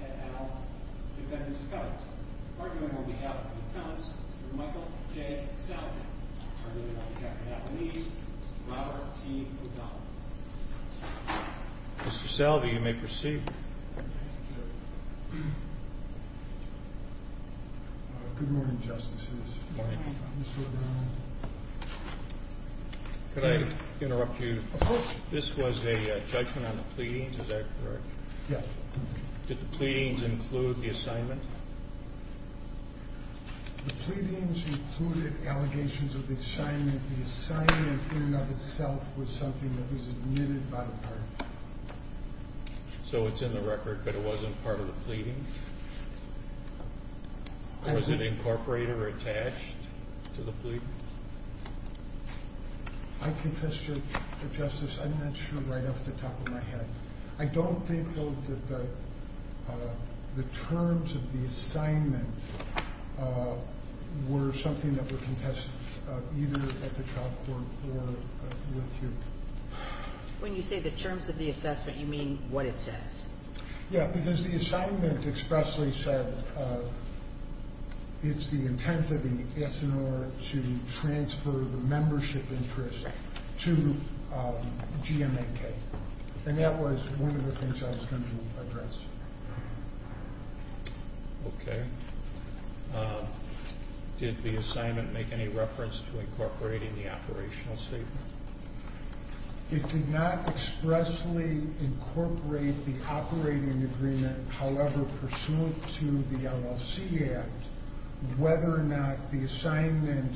at Al, Defendants Accounts, arguing on behalf of Accounts, Mr. Michael J. Salvey. Arguing on behalf of Applebees, Mr. Robert T. O'Donnell. Mr. Salvey, you may proceed. Thank you. Mr. Salvey. Good morning, Justices. Good morning. Mr. O'Donnell. Could I interrupt you? Of course. This was a judgment on the pleadings, is that correct? Yes. Did the pleadings include the assignment? The pleadings included allegations of the assignment. The assignment in and of itself was something that was admitted by the party. So it's in the record, but it wasn't part of the pleadings? Was it incorporated or attached to the pleadings? I confess to it, Justice. I'm not sure right off the top of my head. I don't think, though, that the terms of the assignment were something that were contested either at the trial court or with you. When you say the terms of the assessment, you mean what it says? Yeah, because the assignment expressly said it's the intent of the SNR to transfer the membership interest to GMNK. And that was one of the things I was going to address. Okay. Did the assignment make any It did not expressly incorporate the operating agreement, however, pursuant to the LLC Act, whether or not the assignment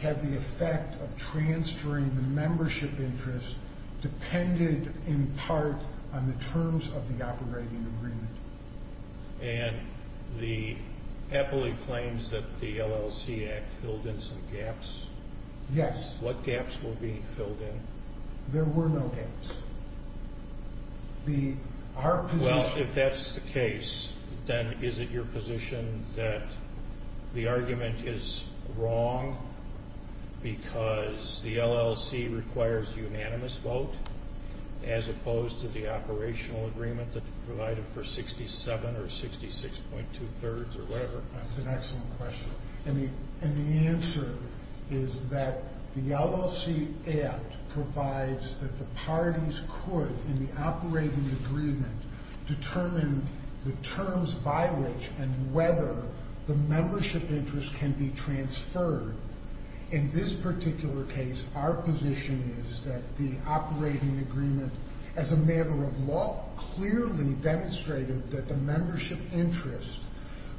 had the effect of transferring the membership interest depended in part on the terms of the operating agreement. And the appellee claims that the LLC Act filled in some gaps. Yes. What gaps were being filled in? There were no gaps. Well, if that's the case, then is it your position that the argument is wrong because the LLC requires unanimous vote as opposed to the operational agreement that provided for 67 or 66.2 thirds or whatever? That's an excellent question. And the answer is that the LLC Act provides that the parties could, in the operating agreement, determine the terms by which and whether the membership interest can be transferred. In this particular case, our position is that the operating agreement as a matter of law clearly demonstrated that the membership interest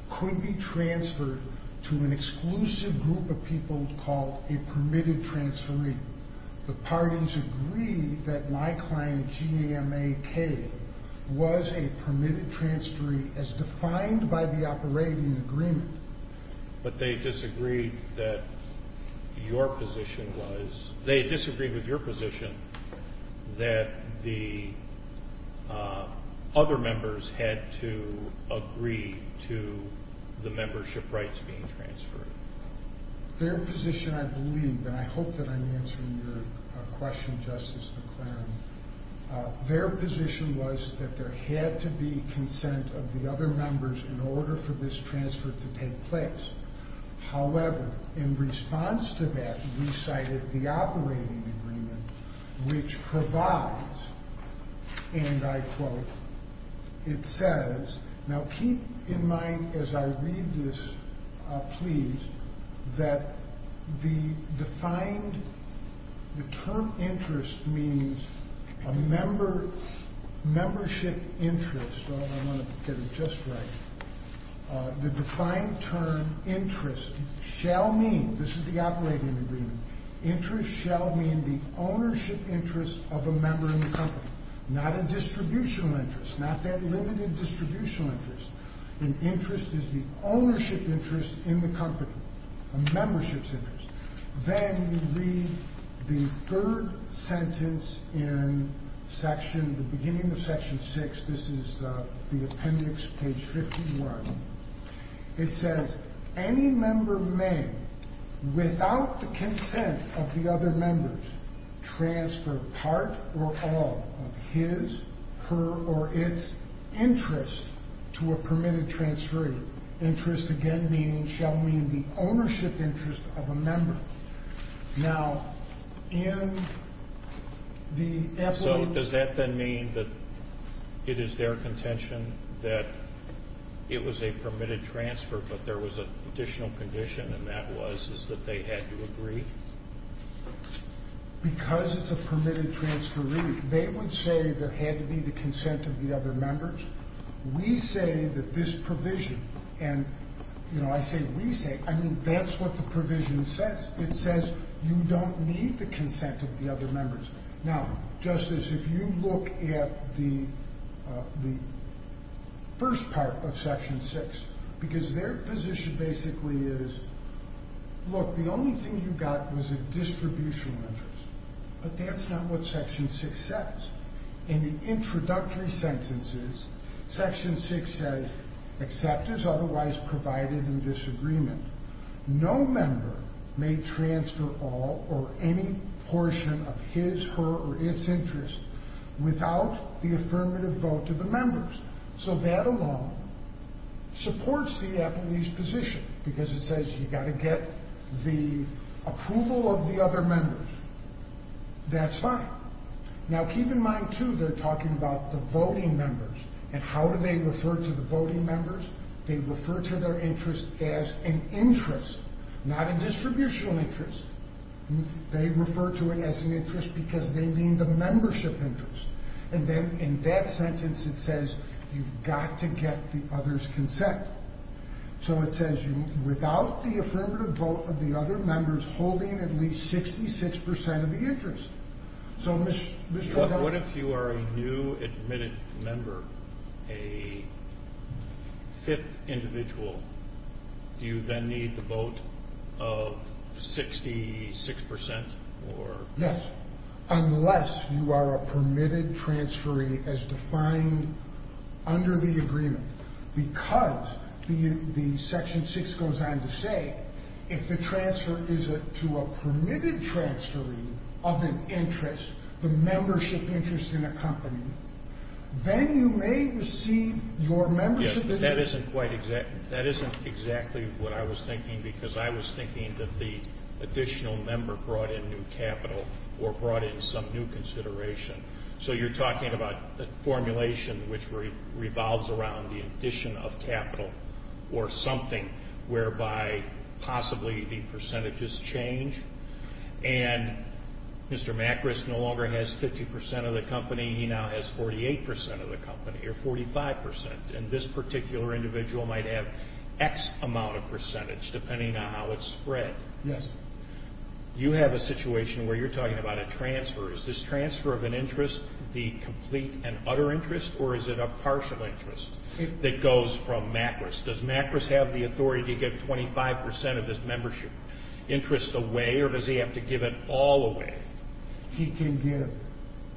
could be transferred to an exclusive group of people called a permitted transferee. The parties agree that my client, GMAK, was a permitted transferee as defined by the operating agreement. But they disagreed that your position was, they disagreed with your position that the other members had to agree to the membership rights being transferred. Their position, I believe, and I hope that I'm answering your question, Justice McClaren, their position was that there had to be consent of the other members in order for this transfer to take place. However, in response to that, we cited the operating agreement, which provides, and I quote, it says, now keep in mind as I read this, please, that the defined, the term interest means a member, membership interest. I want to get it just right. The defined term interest shall mean, this is the operating agreement, interest shall mean the ownership interest of a member in the company. Not a distributional interest, not that limited distributional interest. An interest is the ownership interest in the company, a membership's interest. Then we read the third sentence in section, the beginning of section six. This is the appendix, page 51. It says, any member may, without the consent of the other members, transfer part or all of his, her, or its interest to a permitted transfer. Interest, again, meaning, shall mean the ownership interest of a member. Now, in the... So does that then mean that it is their contention that it was a permitted transfer, but there was an additional condition, and that was, is that they had to agree? Because it's a permitted transfer, really. They would say there had to be the consent of the other members. We say that this provision, and, you know, I say we say, I mean, that's what the provision says. It says you don't need the consent of the other members. Now, Justice, if you look at the first part of section six, because their position basically is, look, the only thing you got was a distributional interest, but that's not what section six says. In the introductory sentences, section six says, except as otherwise provided in disagreement, no member may transfer all or any portion of his, her, or its interest without the affirmative vote of the members. So that alone supports the appellee's position, because it says you got to get the approval of the other members. That's fine. Now, keep in mind, too, they're talking about the voting members, and how do they refer to the voting members? They refer to their interest as an interest, not a distributional interest. They refer to it as an interest because they mean the membership interest. And then in that sentence, it says you've got to get the other's consent. So it says without the affirmative vote of the other members holding at least 66 percent of the interest. What if you are a new admitted member, a fifth individual? Do you then need the vote of 66 percent? Yes, unless you are a permitted transferee as defined under the agreement, because the section six goes on to say, if the transfer is to a permitted transferee of an interest, the membership interest in a company, then you may receive your membership interest. That isn't exactly what I was thinking, because I was thinking that the additional member brought in new capital or brought in some new consideration. So you're talking about a formulation which revolves around the addition of capital or something, whereby possibly the percentages change. And Mr. Macris no longer has 50 percent of the company. He now has 48 percent of the company, or 45 percent. And this particular individual might have X amount of percentage, depending on how it's spread. Yes. You have a situation where you're talking about a transfer. Is this transfer of an interest the complete and utter interest, or is it a partial interest that goes from Macris? Does Macris have the authority to give 25 percent of his membership interest away, or does he have to give it all away? He can give.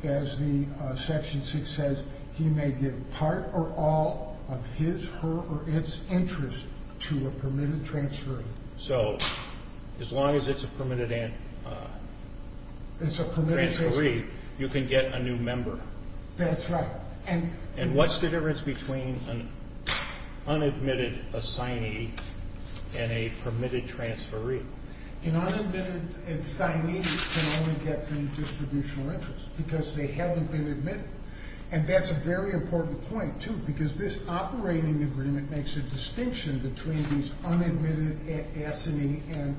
As the section six says, he may give part or all of his, her, or its interest to a permitted transferee. So as long as it's a permitted transferee, you can get a new member. That's right. And what's the difference between an unadmitted assignee and a permitted transferee? An unadmitted assignee can only get the distributional interest because they haven't been admitted. And that's a very important point, too, because this operating agreement makes a distinction between these unadmitted assignee and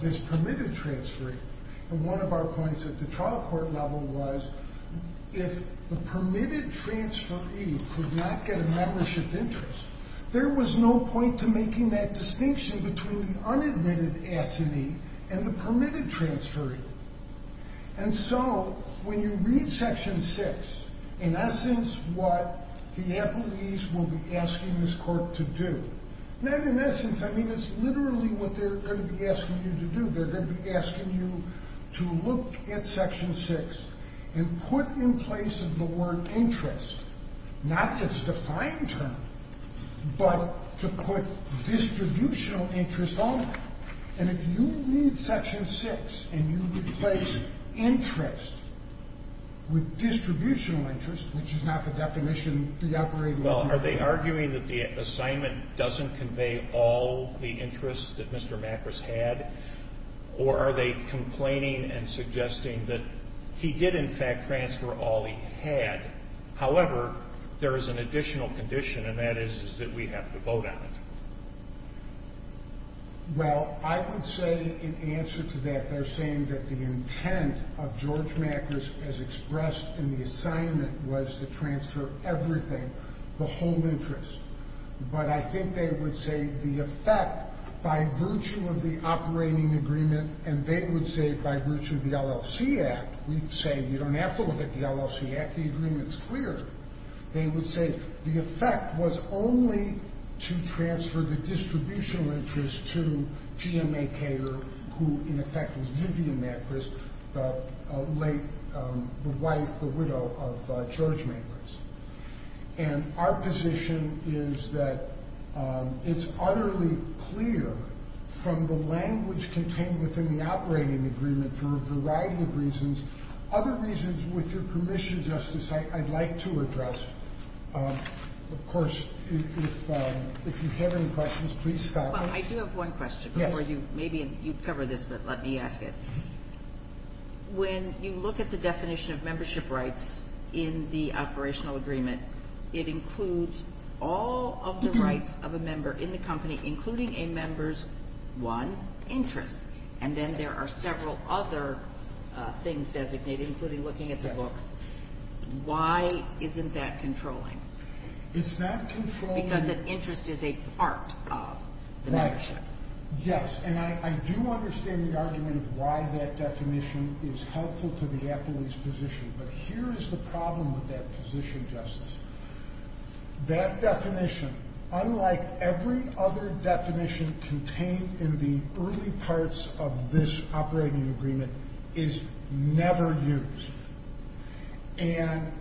this permitted transferee. And one of our points at the trial court level was if the permitted transferee could not get a membership interest, there was no point to making that distinction between the unadmitted assignee and the permitted transferee. And so when you read section six, in essence, what the appellees will be asking this court to do, and in essence, I mean, it's literally what they're going to be asking you to do. They're going to be asking you to look at section six and put in place the word interest, not its defined term, but to put distributional interest on it. And if you read section six and you replace interest with distributional interest, which is not the definition of the operating agreement. Well, are they arguing that the assignment doesn't convey all the interests that Mr. Macris had, or are they complaining and suggesting that he did, in fact, transfer all he had? However, there is an additional condition, and that is that we have to vote on it. Well, I would say in answer to that, they're saying that the intent of George Macris as expressed in the assignment was to transfer everything, the whole interest. But I think they would say the effect, by virtue of the operating agreement, and they would say by virtue of the LLC Act, we'd say you don't have to look at the LLC Act, the agreement's clear. They would say the effect was only to transfer the distributional interest to G.M.A. Cater, who in effect was Vivian Macris, the late, the wife, the widow of George Macris. And our position is that it's utterly clear from the language contained within the operating agreement for a variety of reasons. Other reasons, with your permission, Justice, I'd like to address. Of course, if you have any questions, please stop me. Well, I do have one question before you. Maybe you cover this, but let me ask it. When you look at the definition of membership rights in the operational agreement, it includes all of the rights of a member in the company, including a member's, one, interest. And then there are several other things designated, including looking at the books. Why isn't that controlling? It's not controlling. Yes, and I do understand the argument of why that definition is helpful to the appellee's position. But here is the problem with that position, Justice. That definition, unlike every other definition contained in the early parts of this operating agreement, is never used. And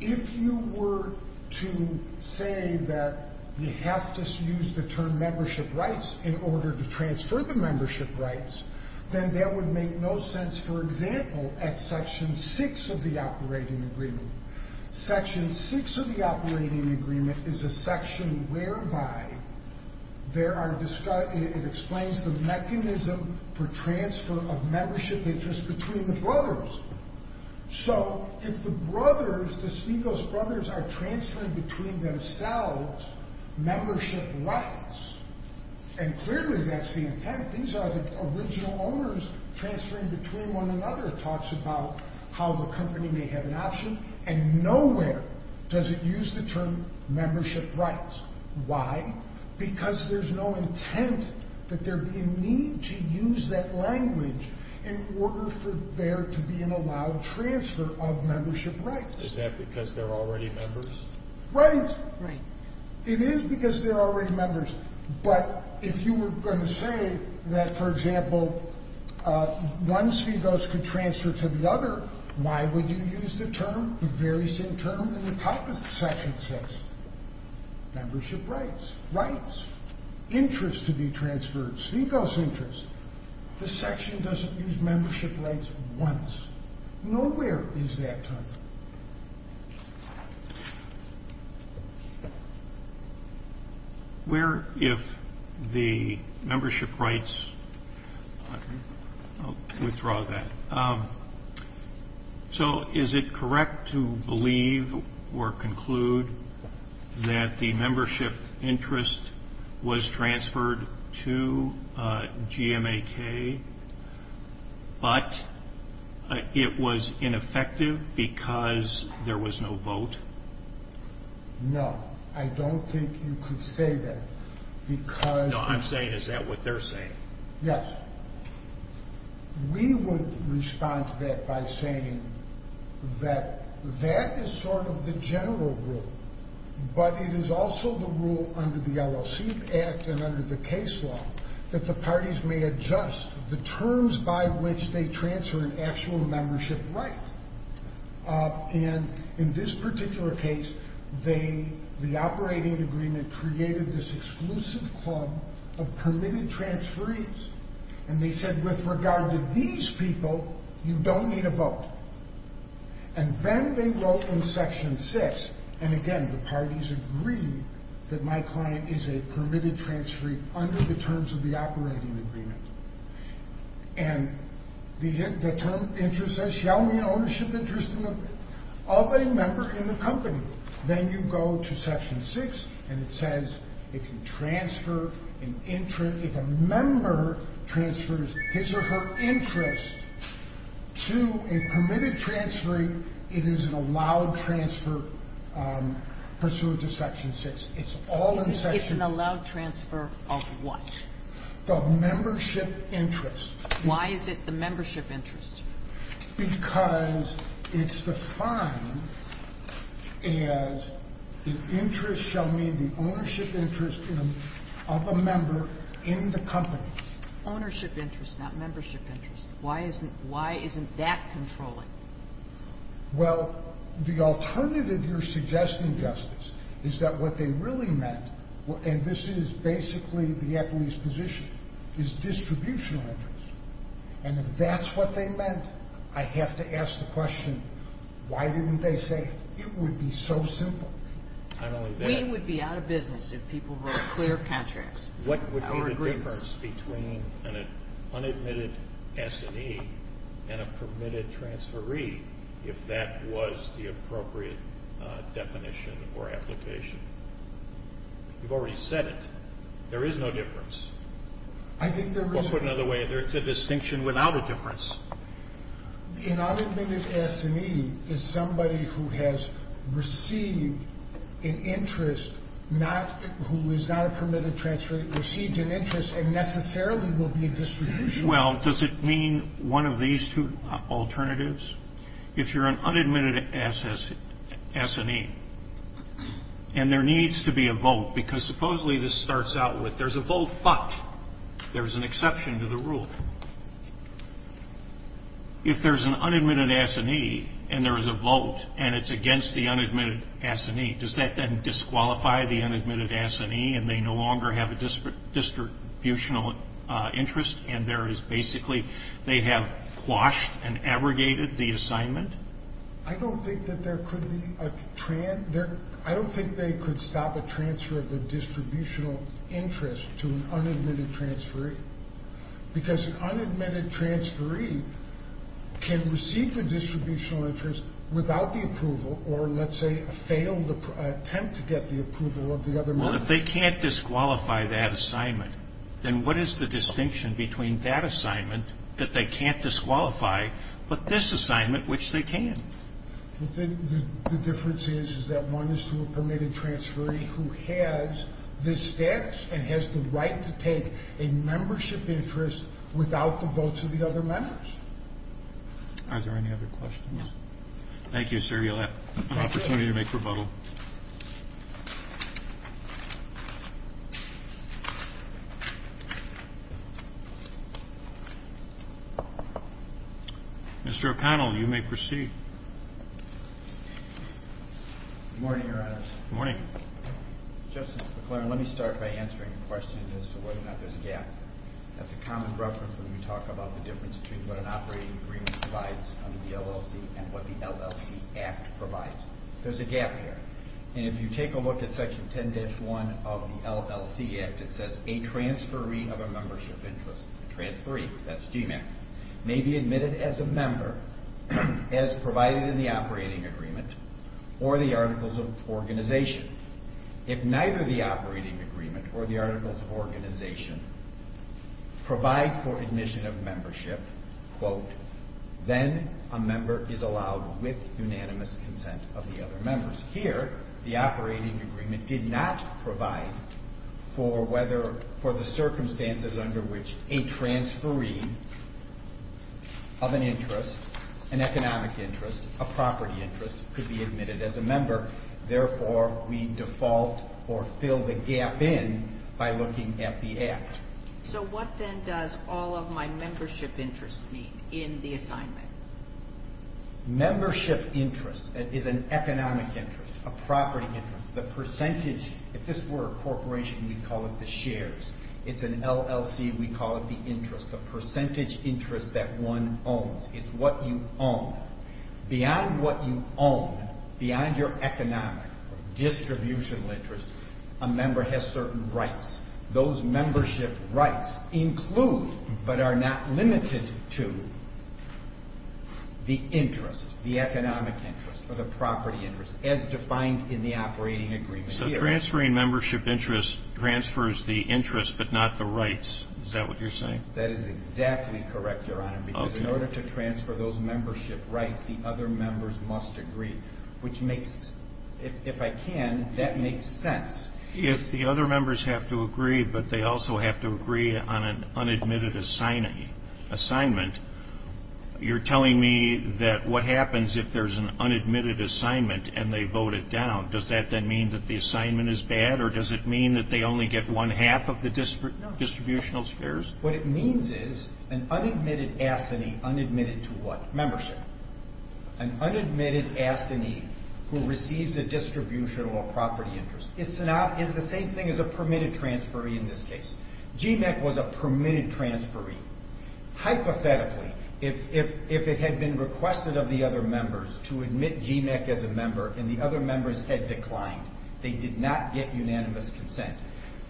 if you were to say that you have to use the term membership rights in order to transfer the membership rights, then that would make no sense, for example, at Section 6 of the operating agreement. Section 6 of the operating agreement is a section whereby it explains the mechanism for transfer of membership interest between the brothers. So if the brothers, the Snegos brothers, are transferring between themselves membership rights, and clearly that's the intent. These are the original owners transferring between one another. It talks about how the company may have an option. And nowhere does it use the term membership rights. Why? Because there's no intent that there be a need to use that language in order for there to be an allowed transfer of membership rights. Is that because they're already members? Right. Right. It is because they're already members. But if you were going to say that, for example, one Snegos could transfer to the other, why would you use the term, the very same term in the top of Section 6? Membership rights. Rights. Interest to be transferred. Snegos interest. The section doesn't use membership rights once. Nowhere is that term used. Where if the membership rights, I'll withdraw that. So is it correct to believe or conclude that the membership interest was transferred to GMAK, but it was ineffective because there was no vote? No. I don't think you could say that because. No, I'm saying is that what they're saying? Yes. We would respond to that by saying that that is sort of the general rule. But it is also the rule under the LLC Act and under the case law that the parties may adjust the terms by which they transfer an actual membership right. And in this particular case, the operating agreement created this exclusive club of permitted transferees. And they said, with regard to these people, you don't need a vote. And then they wrote in Section 6, and again, the parties agreed that my client is a permitted transferee under the terms of the operating agreement. And the term interest says, shall mean ownership interest of a member in the company. Then you go to Section 6, and it says, if a member transfers his or her interest to a permitted transferee, it is an allowed transfer pursuant to Section 6. It's an allowed transfer of what? The membership interest. Why is it the membership interest? Because it's defined as the interest shall mean the ownership interest of a member in the company. Ownership interest, not membership interest. Why isn't that controlling? Well, the alternative you're suggesting, Justice, is that what they really meant, and this is basically the equities position, is distributional interest. And if that's what they meant, I have to ask the question, why didn't they say it would be so simple? We would be out of business if people wrote clear contracts. What would be the difference between an unadmitted S&E and a permitted transferee if that was the appropriate definition or application? You've already said it. There is no difference. I think there is. Or put another way, it's a distinction without a difference. An unadmitted S&E is somebody who has received an interest, not who is not a permitted transferee, received an interest and necessarily will be distributional. Well, does it mean one of these two alternatives? If you're an unadmitted S&E, and there needs to be a vote, because supposedly this starts out with there's a vote, but there's an exception to the rule. If there's an unadmitted S&E, and there is a vote, and it's against the unadmitted S&E, does that then disqualify the unadmitted S&E, and they no longer have a distributional interest, and there is basically they have quashed and abrogated the assignment? I don't think that there could be a – I don't think they could stop a transfer of the distributional interest to an unadmitted transferee, because an unadmitted transferee can receive the distributional interest without the approval or, let's say, fail the attempt to get the approval of the other member. Well, if they can't disqualify that assignment, then what is the distinction between that assignment that they can't disqualify, but this assignment, which they can? The difference is, is that one is to a permitted transferee who has this status and has the right to take a membership interest without the votes of the other members. Are there any other questions? Thank you, sir. You'll have an opportunity to make rebuttal. Mr. O'Connell, you may proceed. Good morning, Your Honors. Good morning. Justice McClaren, let me start by answering the question as to whether or not there's a gap. That's a common reference when we talk about the difference between what an operating agreement provides under the LLC and what the LLC Act provides. There's a gap here. And if you take a look at Section 10-1 of the LLC Act, it says, a transferee of a membership interest, a transferee, that's GMAC, may be admitted as a member as provided in the operating agreement or the Articles of Organization. If neither the operating agreement or the Articles of Organization provide for admission of membership, then a member is allowed with unanimous consent of the other members. Here, the operating agreement did not provide for the circumstances under which a transferee of an interest, an economic interest, a property interest, could be admitted as a member. Therefore, we default or fill the gap in by looking at the Act. So what then does all of my membership interests mean in the assignment? Membership interest is an economic interest, a property interest, the percentage. If this were a corporation, we'd call it the shares. It's an LLC. We call it the interest, the percentage interest that one owns. It's what you own. Beyond what you own, beyond your economic or distributional interest, a member has certain rights. Those membership rights include but are not limited to the interest, the economic interest or the property interest, as defined in the operating agreement here. So transferring membership interest transfers the interest but not the rights. Is that what you're saying? That is exactly correct, Your Honor, because in order to transfer those membership rights, the other members must agree, which makes, if I can, that makes sense. If the other members have to agree but they also have to agree on an unadmitted assignment, you're telling me that what happens if there's an unadmitted assignment and they vote it down? Does that then mean that the assignment is bad, or does it mean that they only get one-half of the distributional shares? No. What it means is an unadmitted assignee, unadmitted to what? Membership. An unadmitted assignee who receives a distributional or property interest. It's the same thing as a permitted transferee in this case. GMAC was a permitted transferee. Hypothetically, if it had been requested of the other members to admit GMAC as a member and the other members had declined, they did not get unanimous consent,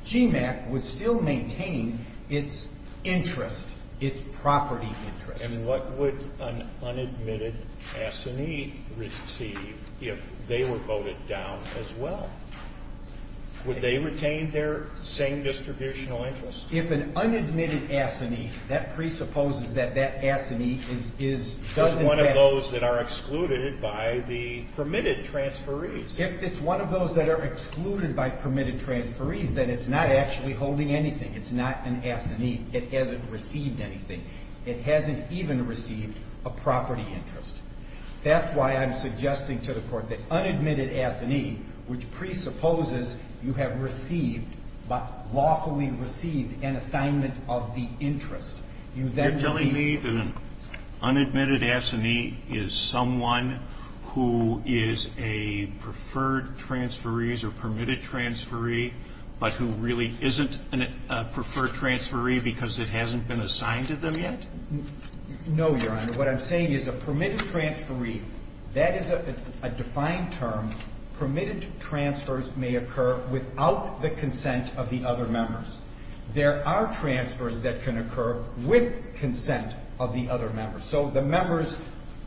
GMAC would still maintain its interest, its property interest. And what would an unadmitted assignee receive if they were voted down as well? Would they retain their same distributional interest? If an unadmitted assignee, that presupposes that that assignee is one of those that are excluded by the permitted transferees. If it's one of those that are excluded by permitted transferees, then it's not actually holding anything. It's not an assignee. It hasn't received anything. It hasn't even received a property interest. That's why I'm suggesting to the Court that unadmitted assignee, which presupposes you have received, lawfully received, an assignment of the interest, you then would be. You're telling me an unadmitted assignee is someone who is a preferred transferees or permitted transferee, but who really isn't a preferred transferee because it hasn't been assigned to them yet? No, Your Honor. What I'm saying is a permitted transferee, that is a defined term. Permitted transfers may occur without the consent of the other members. There are transfers that can occur with consent of the other members. So the members,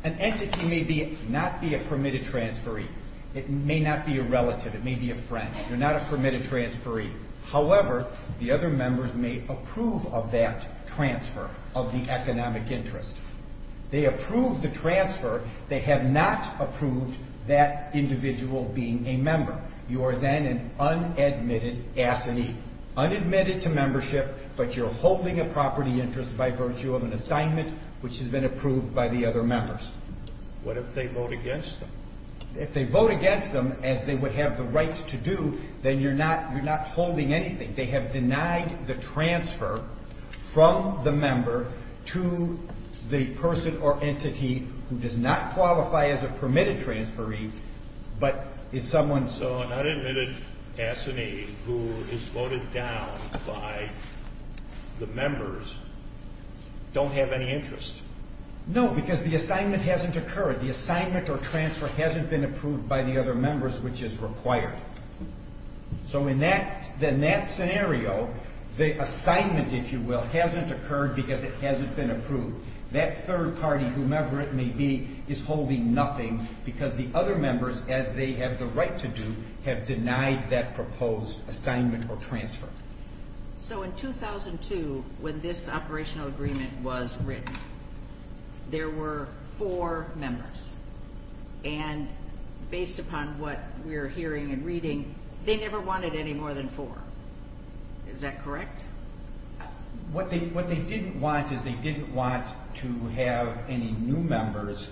an entity may not be a permitted transferee. It may not be a relative. It may be a friend. You're not a permitted transferee. However, the other members may approve of that transfer of the economic interest. They approve the transfer. They have not approved that individual being a member. You are then an unadmitted assignee. Unadmitted to membership, but you're holding a property interest by virtue of an assignment which has been approved by the other members. What if they vote against them? If they vote against them, as they would have the right to do, then you're not holding anything. They have denied the transfer from the member to the person or entity who does not qualify as a permitted transferee, but is someone's. So an unadmitted assignee who is voted down by the members don't have any interest? No, because the assignment hasn't occurred. The assignment or transfer hasn't been approved by the other members, which is required. So in that scenario, the assignment, if you will, hasn't occurred because it hasn't been approved. That third party, whomever it may be, is holding nothing because the other members, as they have the right to do, have denied that proposed assignment or transfer. So in 2002, when this operational agreement was written, there were four members. And based upon what we're hearing and reading, they never wanted any more than four. Is that correct? What they didn't want is they didn't want to have any new members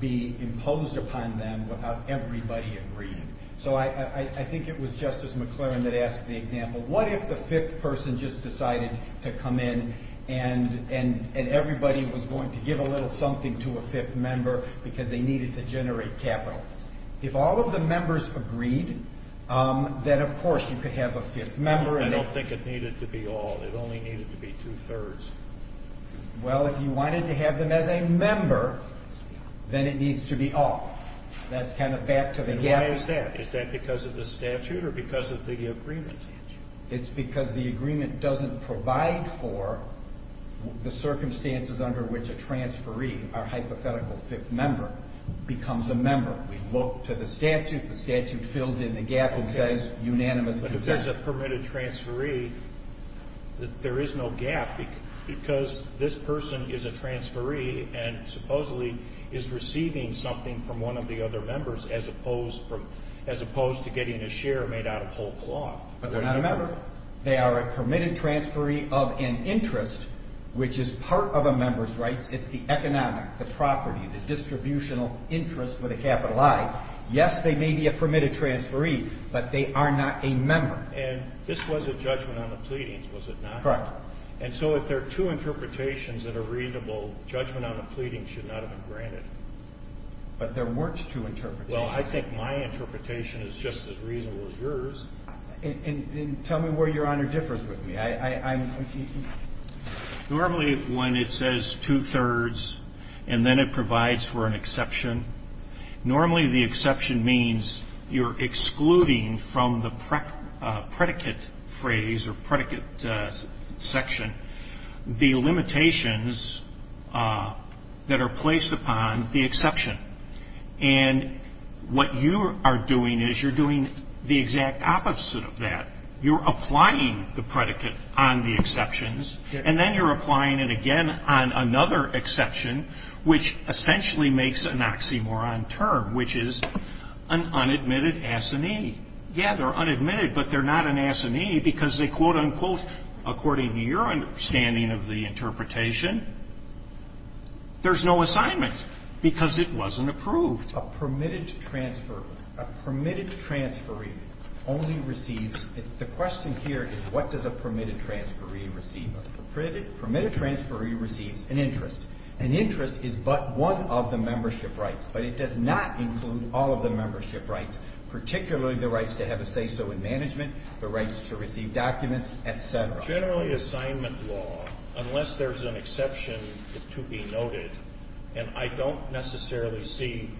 be imposed upon them without everybody agreeing. So I think it was Justice McLaren that asked the example, what if the fifth person just decided to come in and everybody was going to give a little something to a fifth member because they needed to generate capital? If all of the members agreed, then, of course, you could have a fifth member. I don't think it needed to be all. It only needed to be two-thirds. Well, if you wanted to have them as a member, then it needs to be all. That's kind of back to the gap. And why is that? Is that because of the statute or because of the agreement? It's because the agreement doesn't provide for the circumstances under which a permitted transferee, our hypothetical fifth member, becomes a member. We look to the statute. The statute fills in the gap and says unanimous consent. But if there's a permitted transferee, there is no gap because this person is a transferee and supposedly is receiving something from one of the other members as opposed to getting a share made out of whole cloth. But they're not a member. They are a permitted transferee of an interest, which is part of a member's rights. It's the economic, the property, the distributional interest with a capital I. Yes, they may be a permitted transferee, but they are not a member. And this was a judgment on the pleadings, was it not? Correct. And so if there are two interpretations that are reasonable, judgment on the pleadings should not have been granted. But there weren't two interpretations. Well, I think my interpretation is just as reasonable as yours. And tell me where Your Honor differs with me. Normally when it says two-thirds and then it provides for an exception, normally the exception means you're excluding from the predicate phrase or predicate section the limitations that are placed upon the exception. And what you are doing is you're doing the exact opposite of that. You're applying the predicate on the exceptions, and then you're applying it again on another exception, which essentially makes an oxymoron term, which is an unadmitted assignee. Yeah, they're unadmitted, but they're not an assignee because they, quote, unquote, according to your understanding of the interpretation, there's no assignment because it wasn't approved. A permitted transferee only receives the question here is what does a permitted transferee receive? A permitted transferee receives an interest. An interest is but one of the membership rights, but it does not include all of the membership rights, particularly the rights to have a say-so in management, the rights to receive documents, et cetera. Generally assignment law, unless there's an exception to be noted, and I don't necessarily see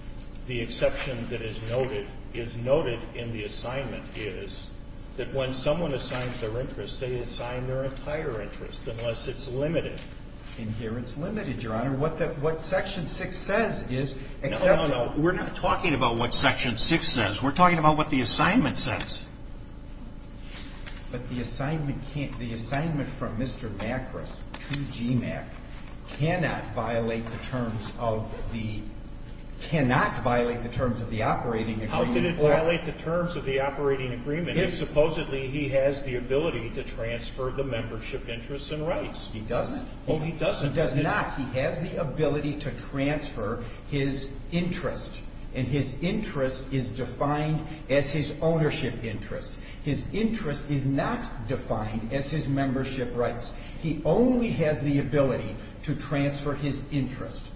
the exception that is noted in the assignment is that when someone assigns their interest, they assign their entire interest, unless it's limited. And here it's limited, Your Honor. What Section 6 says is exceptional. No, no, no. We're not talking about what Section 6 says. We're talking about what the assignment says. But the assignment can't – the assignment from Mr. Macris to GMAC cannot violate the terms of the – cannot violate the terms of the operating agreement. How did it violate the terms of the operating agreement if supposedly he has the ability to transfer the membership interests and rights? He doesn't. Oh, he doesn't. He does not. He has the ability to transfer his interest, and his interest is defined as his ownership interest. His interest is not defined as his membership rights. He only has the ability to transfer his interest.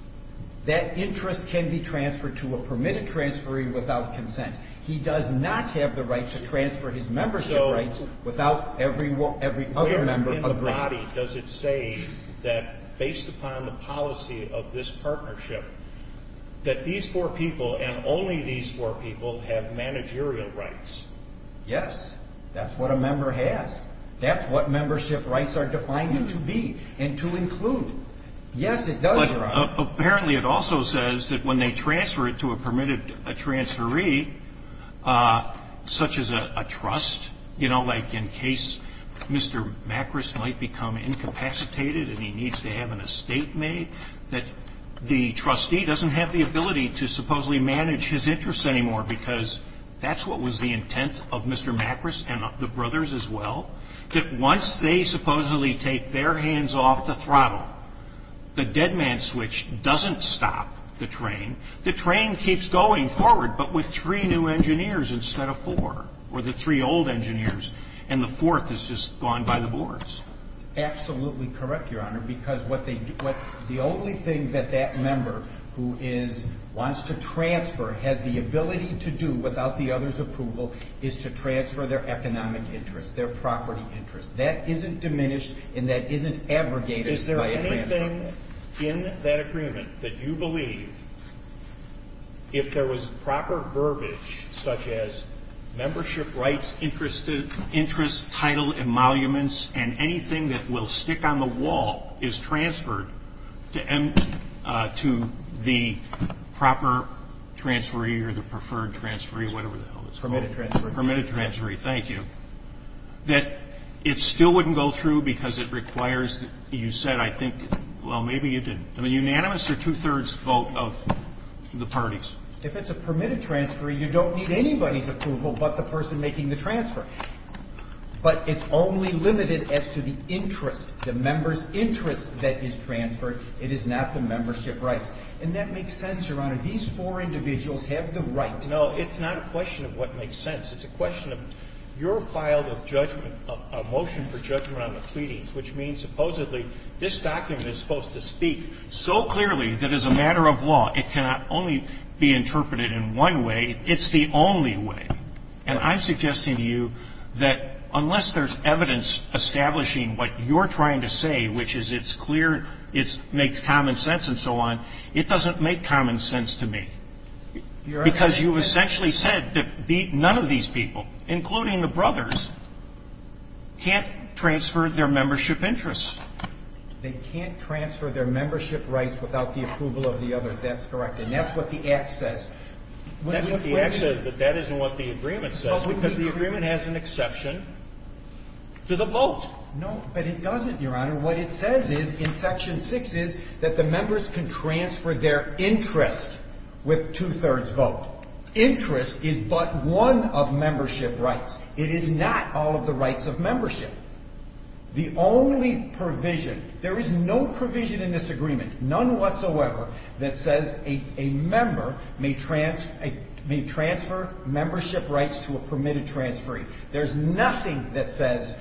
That interest can be transferred to a permitted transferee without consent. He does not have the right to transfer his membership rights without every other member agreeing. Where in the body does it say that based upon the policy of this partnership that these four people and only these four people have managerial rights? Yes. That's what a member has. That's what membership rights are defined to be and to include. Yes, it does, Your Honor. But apparently it also says that when they transfer it to a permitted transferee, such as a trust, you know, like in case Mr. Macris might become incapacitated and he needs to have an estate made, that the trustee doesn't have the ability to supposedly manage his interests anymore because that's what was the intent of Mr. Macris. That once they supposedly take their hands off the throttle, the dead man switch doesn't stop the train. The train keeps going forward, but with three new engineers instead of four, or the three old engineers, and the fourth has just gone by the boards. That's absolutely correct, Your Honor, because the only thing that that member who wants to transfer has the ability to do without the other's approval is to transfer their economic interest, their property interest. That isn't diminished and that isn't abrogated by a transfer. Is there anything in that agreement that you believe, if there was proper verbiage such as membership rights, interests, title, emoluments, and anything that will stick on the wall is transferred to the proper transferee or the preferred transferee, whatever the hell it's called? Permitted transferee. Permitted transferee. Thank you. That it still wouldn't go through because it requires, you said, I think, well, maybe it didn't. I mean, unanimous or two-thirds vote of the parties? If it's a permitted transferee, you don't need anybody's approval but the person making the transfer. But it's only limited as to the interest, the member's interest that is transferred. It is not the membership rights. And that makes sense, Your Honor. These four individuals have the right. No, it's not a question of what makes sense. It's a question of your file of judgment, a motion for judgment on the pleadings, which means supposedly this document is supposed to speak so clearly that as a matter of law, it cannot only be interpreted in one way. It's the only way. And I'm suggesting to you that unless there's evidence establishing what you're trying to say, which is it's clear, it makes common sense and so on, it doesn't make common sense to me. Because you essentially said that none of these people, including the brothers, can't transfer their membership interests. They can't transfer their membership rights without the approval of the others. That's correct. And that's what the Act says. That's what the Act says, but that isn't what the agreement says because the agreement has an exception to the vote. No, but it doesn't, Your Honor. What it says is in Section 6 is that the members can transfer their interest with two-thirds vote. Interest is but one of membership rights. It is not all of the rights of membership. The only provision, there is no provision in this agreement, none whatsoever, that says a member may transfer membership rights to a permitted transferee. There's nothing that says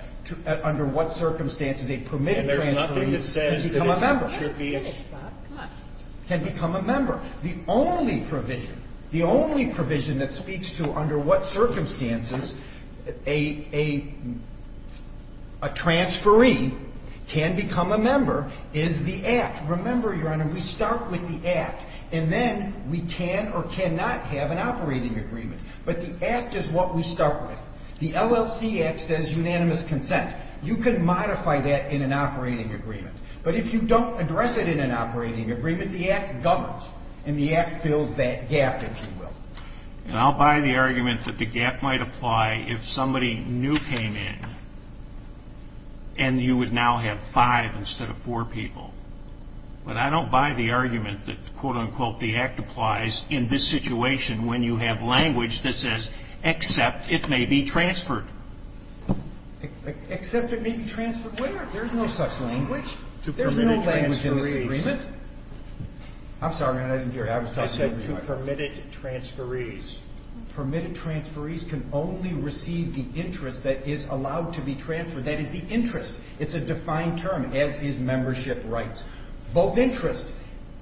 under what circumstances a permitted transferee can become a member. That's finished, Bob. Come on. Can become a member. The only provision, the only provision that speaks to under what circumstances a transferee can become a member is the Act. Remember, Your Honor, we start with the Act, and then we can or cannot have an operating agreement. But the Act is what we start with. The LLC Act says unanimous consent. You can modify that in an operating agreement. But if you don't address it in an operating agreement, the Act governs, and the Act fills that gap, if you will. And I'll buy the argument that the gap might apply if somebody new came in and you would now have five instead of four people. But I don't buy the argument that, quote, unquote, the Act applies in this situation when you have language that says, except it may be transferred. Except it may be transferred where? There's no such language. To permitted transferees. There's no language in this agreement. I'm sorry, Your Honor, I didn't hear you. I was talking to you anyway. I said to permitted transferees. Permitted transferees can only receive the interest that is allowed to be transferred. That is the interest. It's a defined term, as is membership rights. Both interest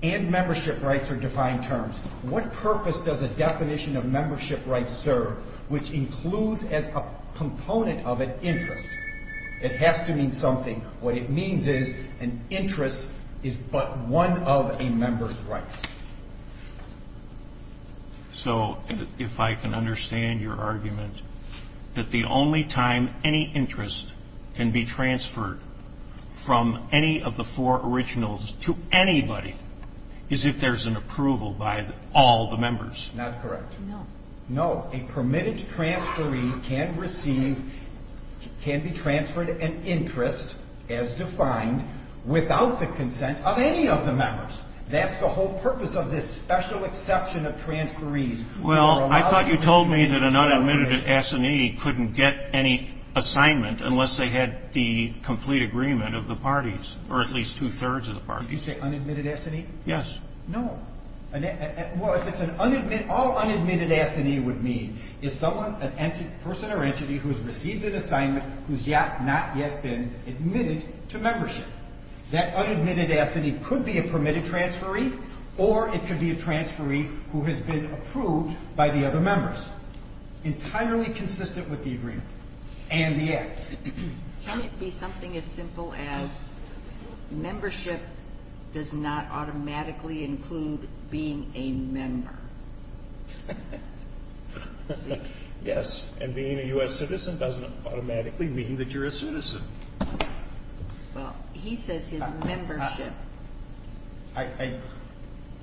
and membership rights are defined terms. What purpose does a definition of membership rights serve, which includes as a component of an interest? It has to mean something. What it means is an interest is but one of a member's rights. So if I can understand your argument, that the only time any interest can be transferred from any of the four originals to anybody is if there's an approval by all the members. Not correct. No. No. A permitted transferee can receive, can be transferred an interest, as defined, without the consent of any of the members. That's the whole purpose of this special exception of transferees. Well, I thought you told me that an unadmitted assignee couldn't get any assignment unless they had the complete agreement of the parties, or at least two-thirds of the parties. Did you say unadmitted assignee? Yes. No. Well, if it's an unadmitted, all unadmitted assignee would mean is someone, a person or entity who has received an assignment who has not yet been admitted to membership. That unadmitted assignee could be a permitted transferee, or it could be a transferee who has been approved by the other members, entirely consistent with the agreement and the act. Can it be something as simple as membership does not automatically include being a member? Yes. And being a U.S. citizen doesn't automatically mean that you're a citizen. Well, he says his membership. I, I,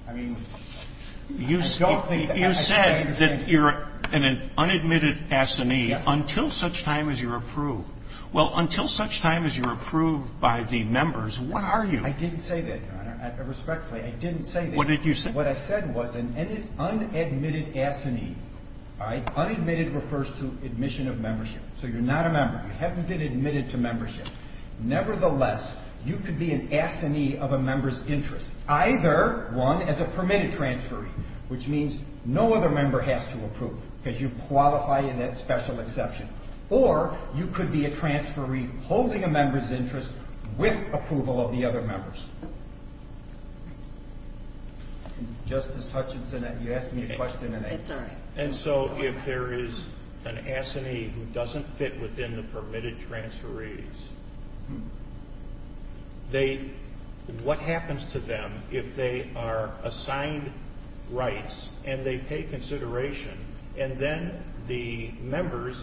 I mean, I don't think that has to be the same. He says that you're an unadmitted assignee until such time as you're approved. Well, until such time as you're approved by the members, what are you? I didn't say that, Your Honor, respectfully. I didn't say that. What did you say? What I said was an unadmitted assignee, all right, unadmitted refers to admission of membership. So you're not a member. You haven't been admitted to membership. Nevertheless, you could be an assignee of a member's interest, either one as a member has to approve, because you qualify in that special exception. Or you could be a transferee holding a member's interest with approval of the other members. Justice Hutchinson, you asked me a question, and I. It's all right. And so if there is an assignee who doesn't fit within the permitted transferees, what happens to them if they are assigned rights and they pay consideration and then the members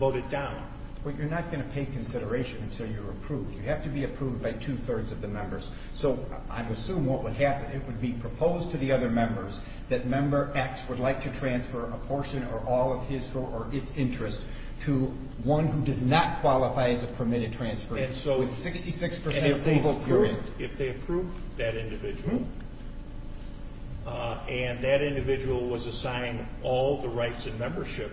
vote it down? Well, you're not going to pay consideration until you're approved. You have to be approved by two-thirds of the members. So I would assume what would happen, it would be proposed to the other members that member X would like to transfer a portion or all of his or its interest to one who does not qualify as a permitted transferee with 66 percent approval period. And so if they approve that individual and that individual was assigned all the rights and membership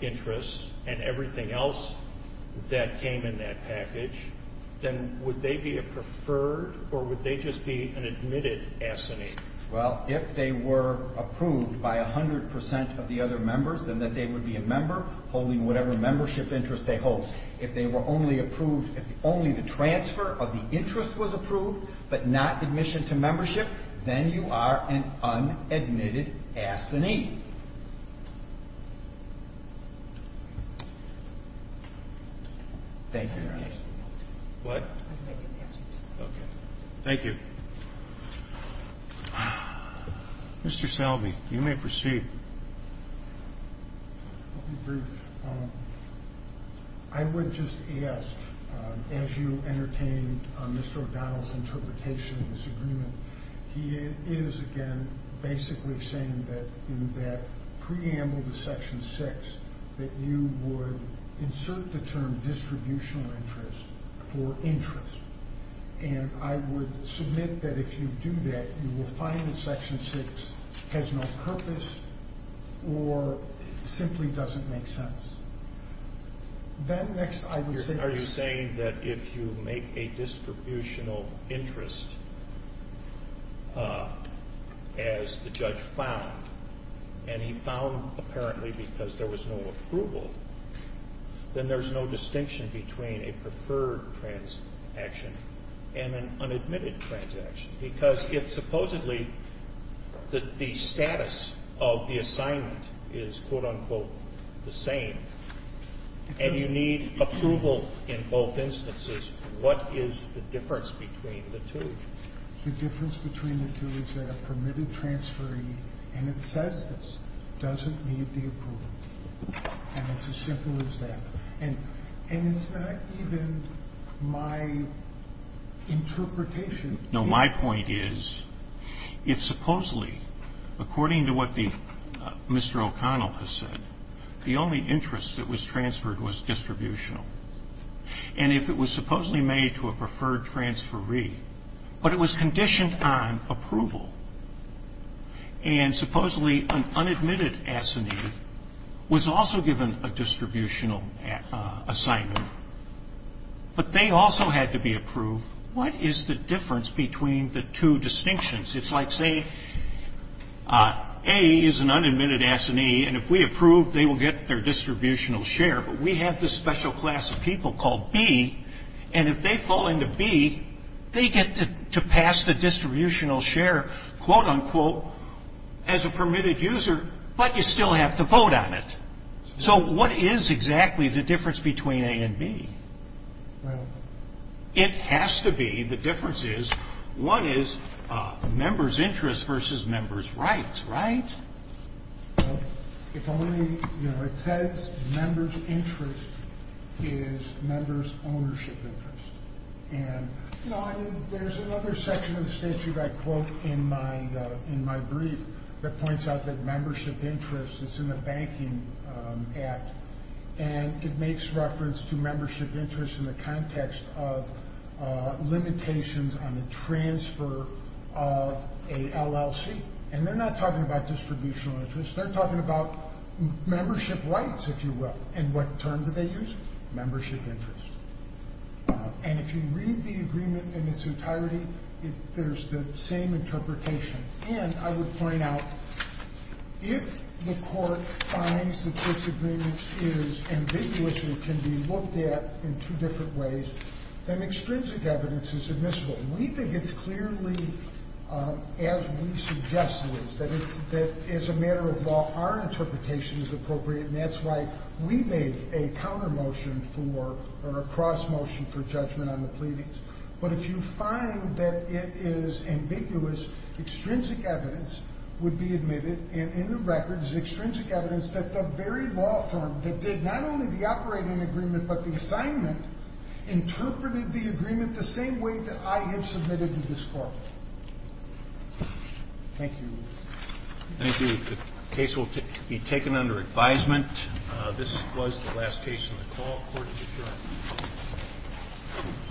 interests and everything else that came in that package, then would they be a preferred or would they just be an admitted assignee? Well, if they were approved by 100 percent of the other members, then they would be a member holding whatever membership interest they hold. If they were only approved if only the transfer of the interest was approved but not admission to membership, then you are an unadmitted assignee. Thank you, Your Honor. What? I was making an answer to that. Okay. Thank you. Mr. Selvey, you may proceed. I'll be brief. I would just ask, as you entertained Mr. O'Donnell's interpretation of this agreement, he is, again, basically saying that in that preamble to Section 6, that you would insert the term distributional interest for interest. And I would submit that if you do that, you will find that Section 6 has no purpose or simply doesn't make sense. Are you saying that if you make a distributional interest, as the judge found, and he found apparently because there was no approval, then there's no distinction between a preferred transaction and an unadmitted transaction? Because if supposedly the status of the assignment is, quote, unquote, the same and you need approval in both instances, what is the difference between the two? The difference between the two is that a permitted transferee, and it says this, doesn't need the approval. And it's as simple as that. And is that even my interpretation? No. My point is, if supposedly, according to what Mr. O'Connell has said, the only interest that was transferred was distributional. And if it was supposedly made to a preferred transferee, but it was conditioned on approval, and supposedly an unadmitted assignee was also given a distributional assignment, but they also had to be approved, what is the difference between the two distinctions? It's like, say, A is an unadmitted assignee, and if we approve, they will get their distributional share. But we have this special class of people called B, and if they fall into B, they get to pass the distributional share, quote, unquote, as a permitted user, but you still have to vote on it. So what is exactly the difference between A and B? Well, it has to be, the difference is, what is member's interest versus member's rights, right? If only, you know, it says member's interest is member's ownership interest. And, you know, there's another section of the statute I quote in my brief that points out that membership interest is in the banking act, and it makes reference to membership interest in the context of limitations on the transfer of a LLC. And they're not talking about distributional interest, they're talking about membership rights, if you will. And what term do they use? Membership interest. And if you read the agreement in its entirety, there's the same interpretation. And I would point out, if the Court finds that this agreement is ambiguous and can be looked at in two different ways, then extrinsic evidence is admissible. We think it's clearly, as we suggest it is, that it's, that as a matter of law, our interpretation is appropriate, and that's why we made a counter motion for, or a cross motion for judgment on the pleadings. But if you find that it is ambiguous, extrinsic evidence would be admitted. And in the record is extrinsic evidence that the very law firm that did not only the operating agreement but the assignment interpreted the agreement the same way that I have submitted to this Court. Thank you. Thank you. The case will be taken under advisement. This was the last case on the call. Court is adjourned.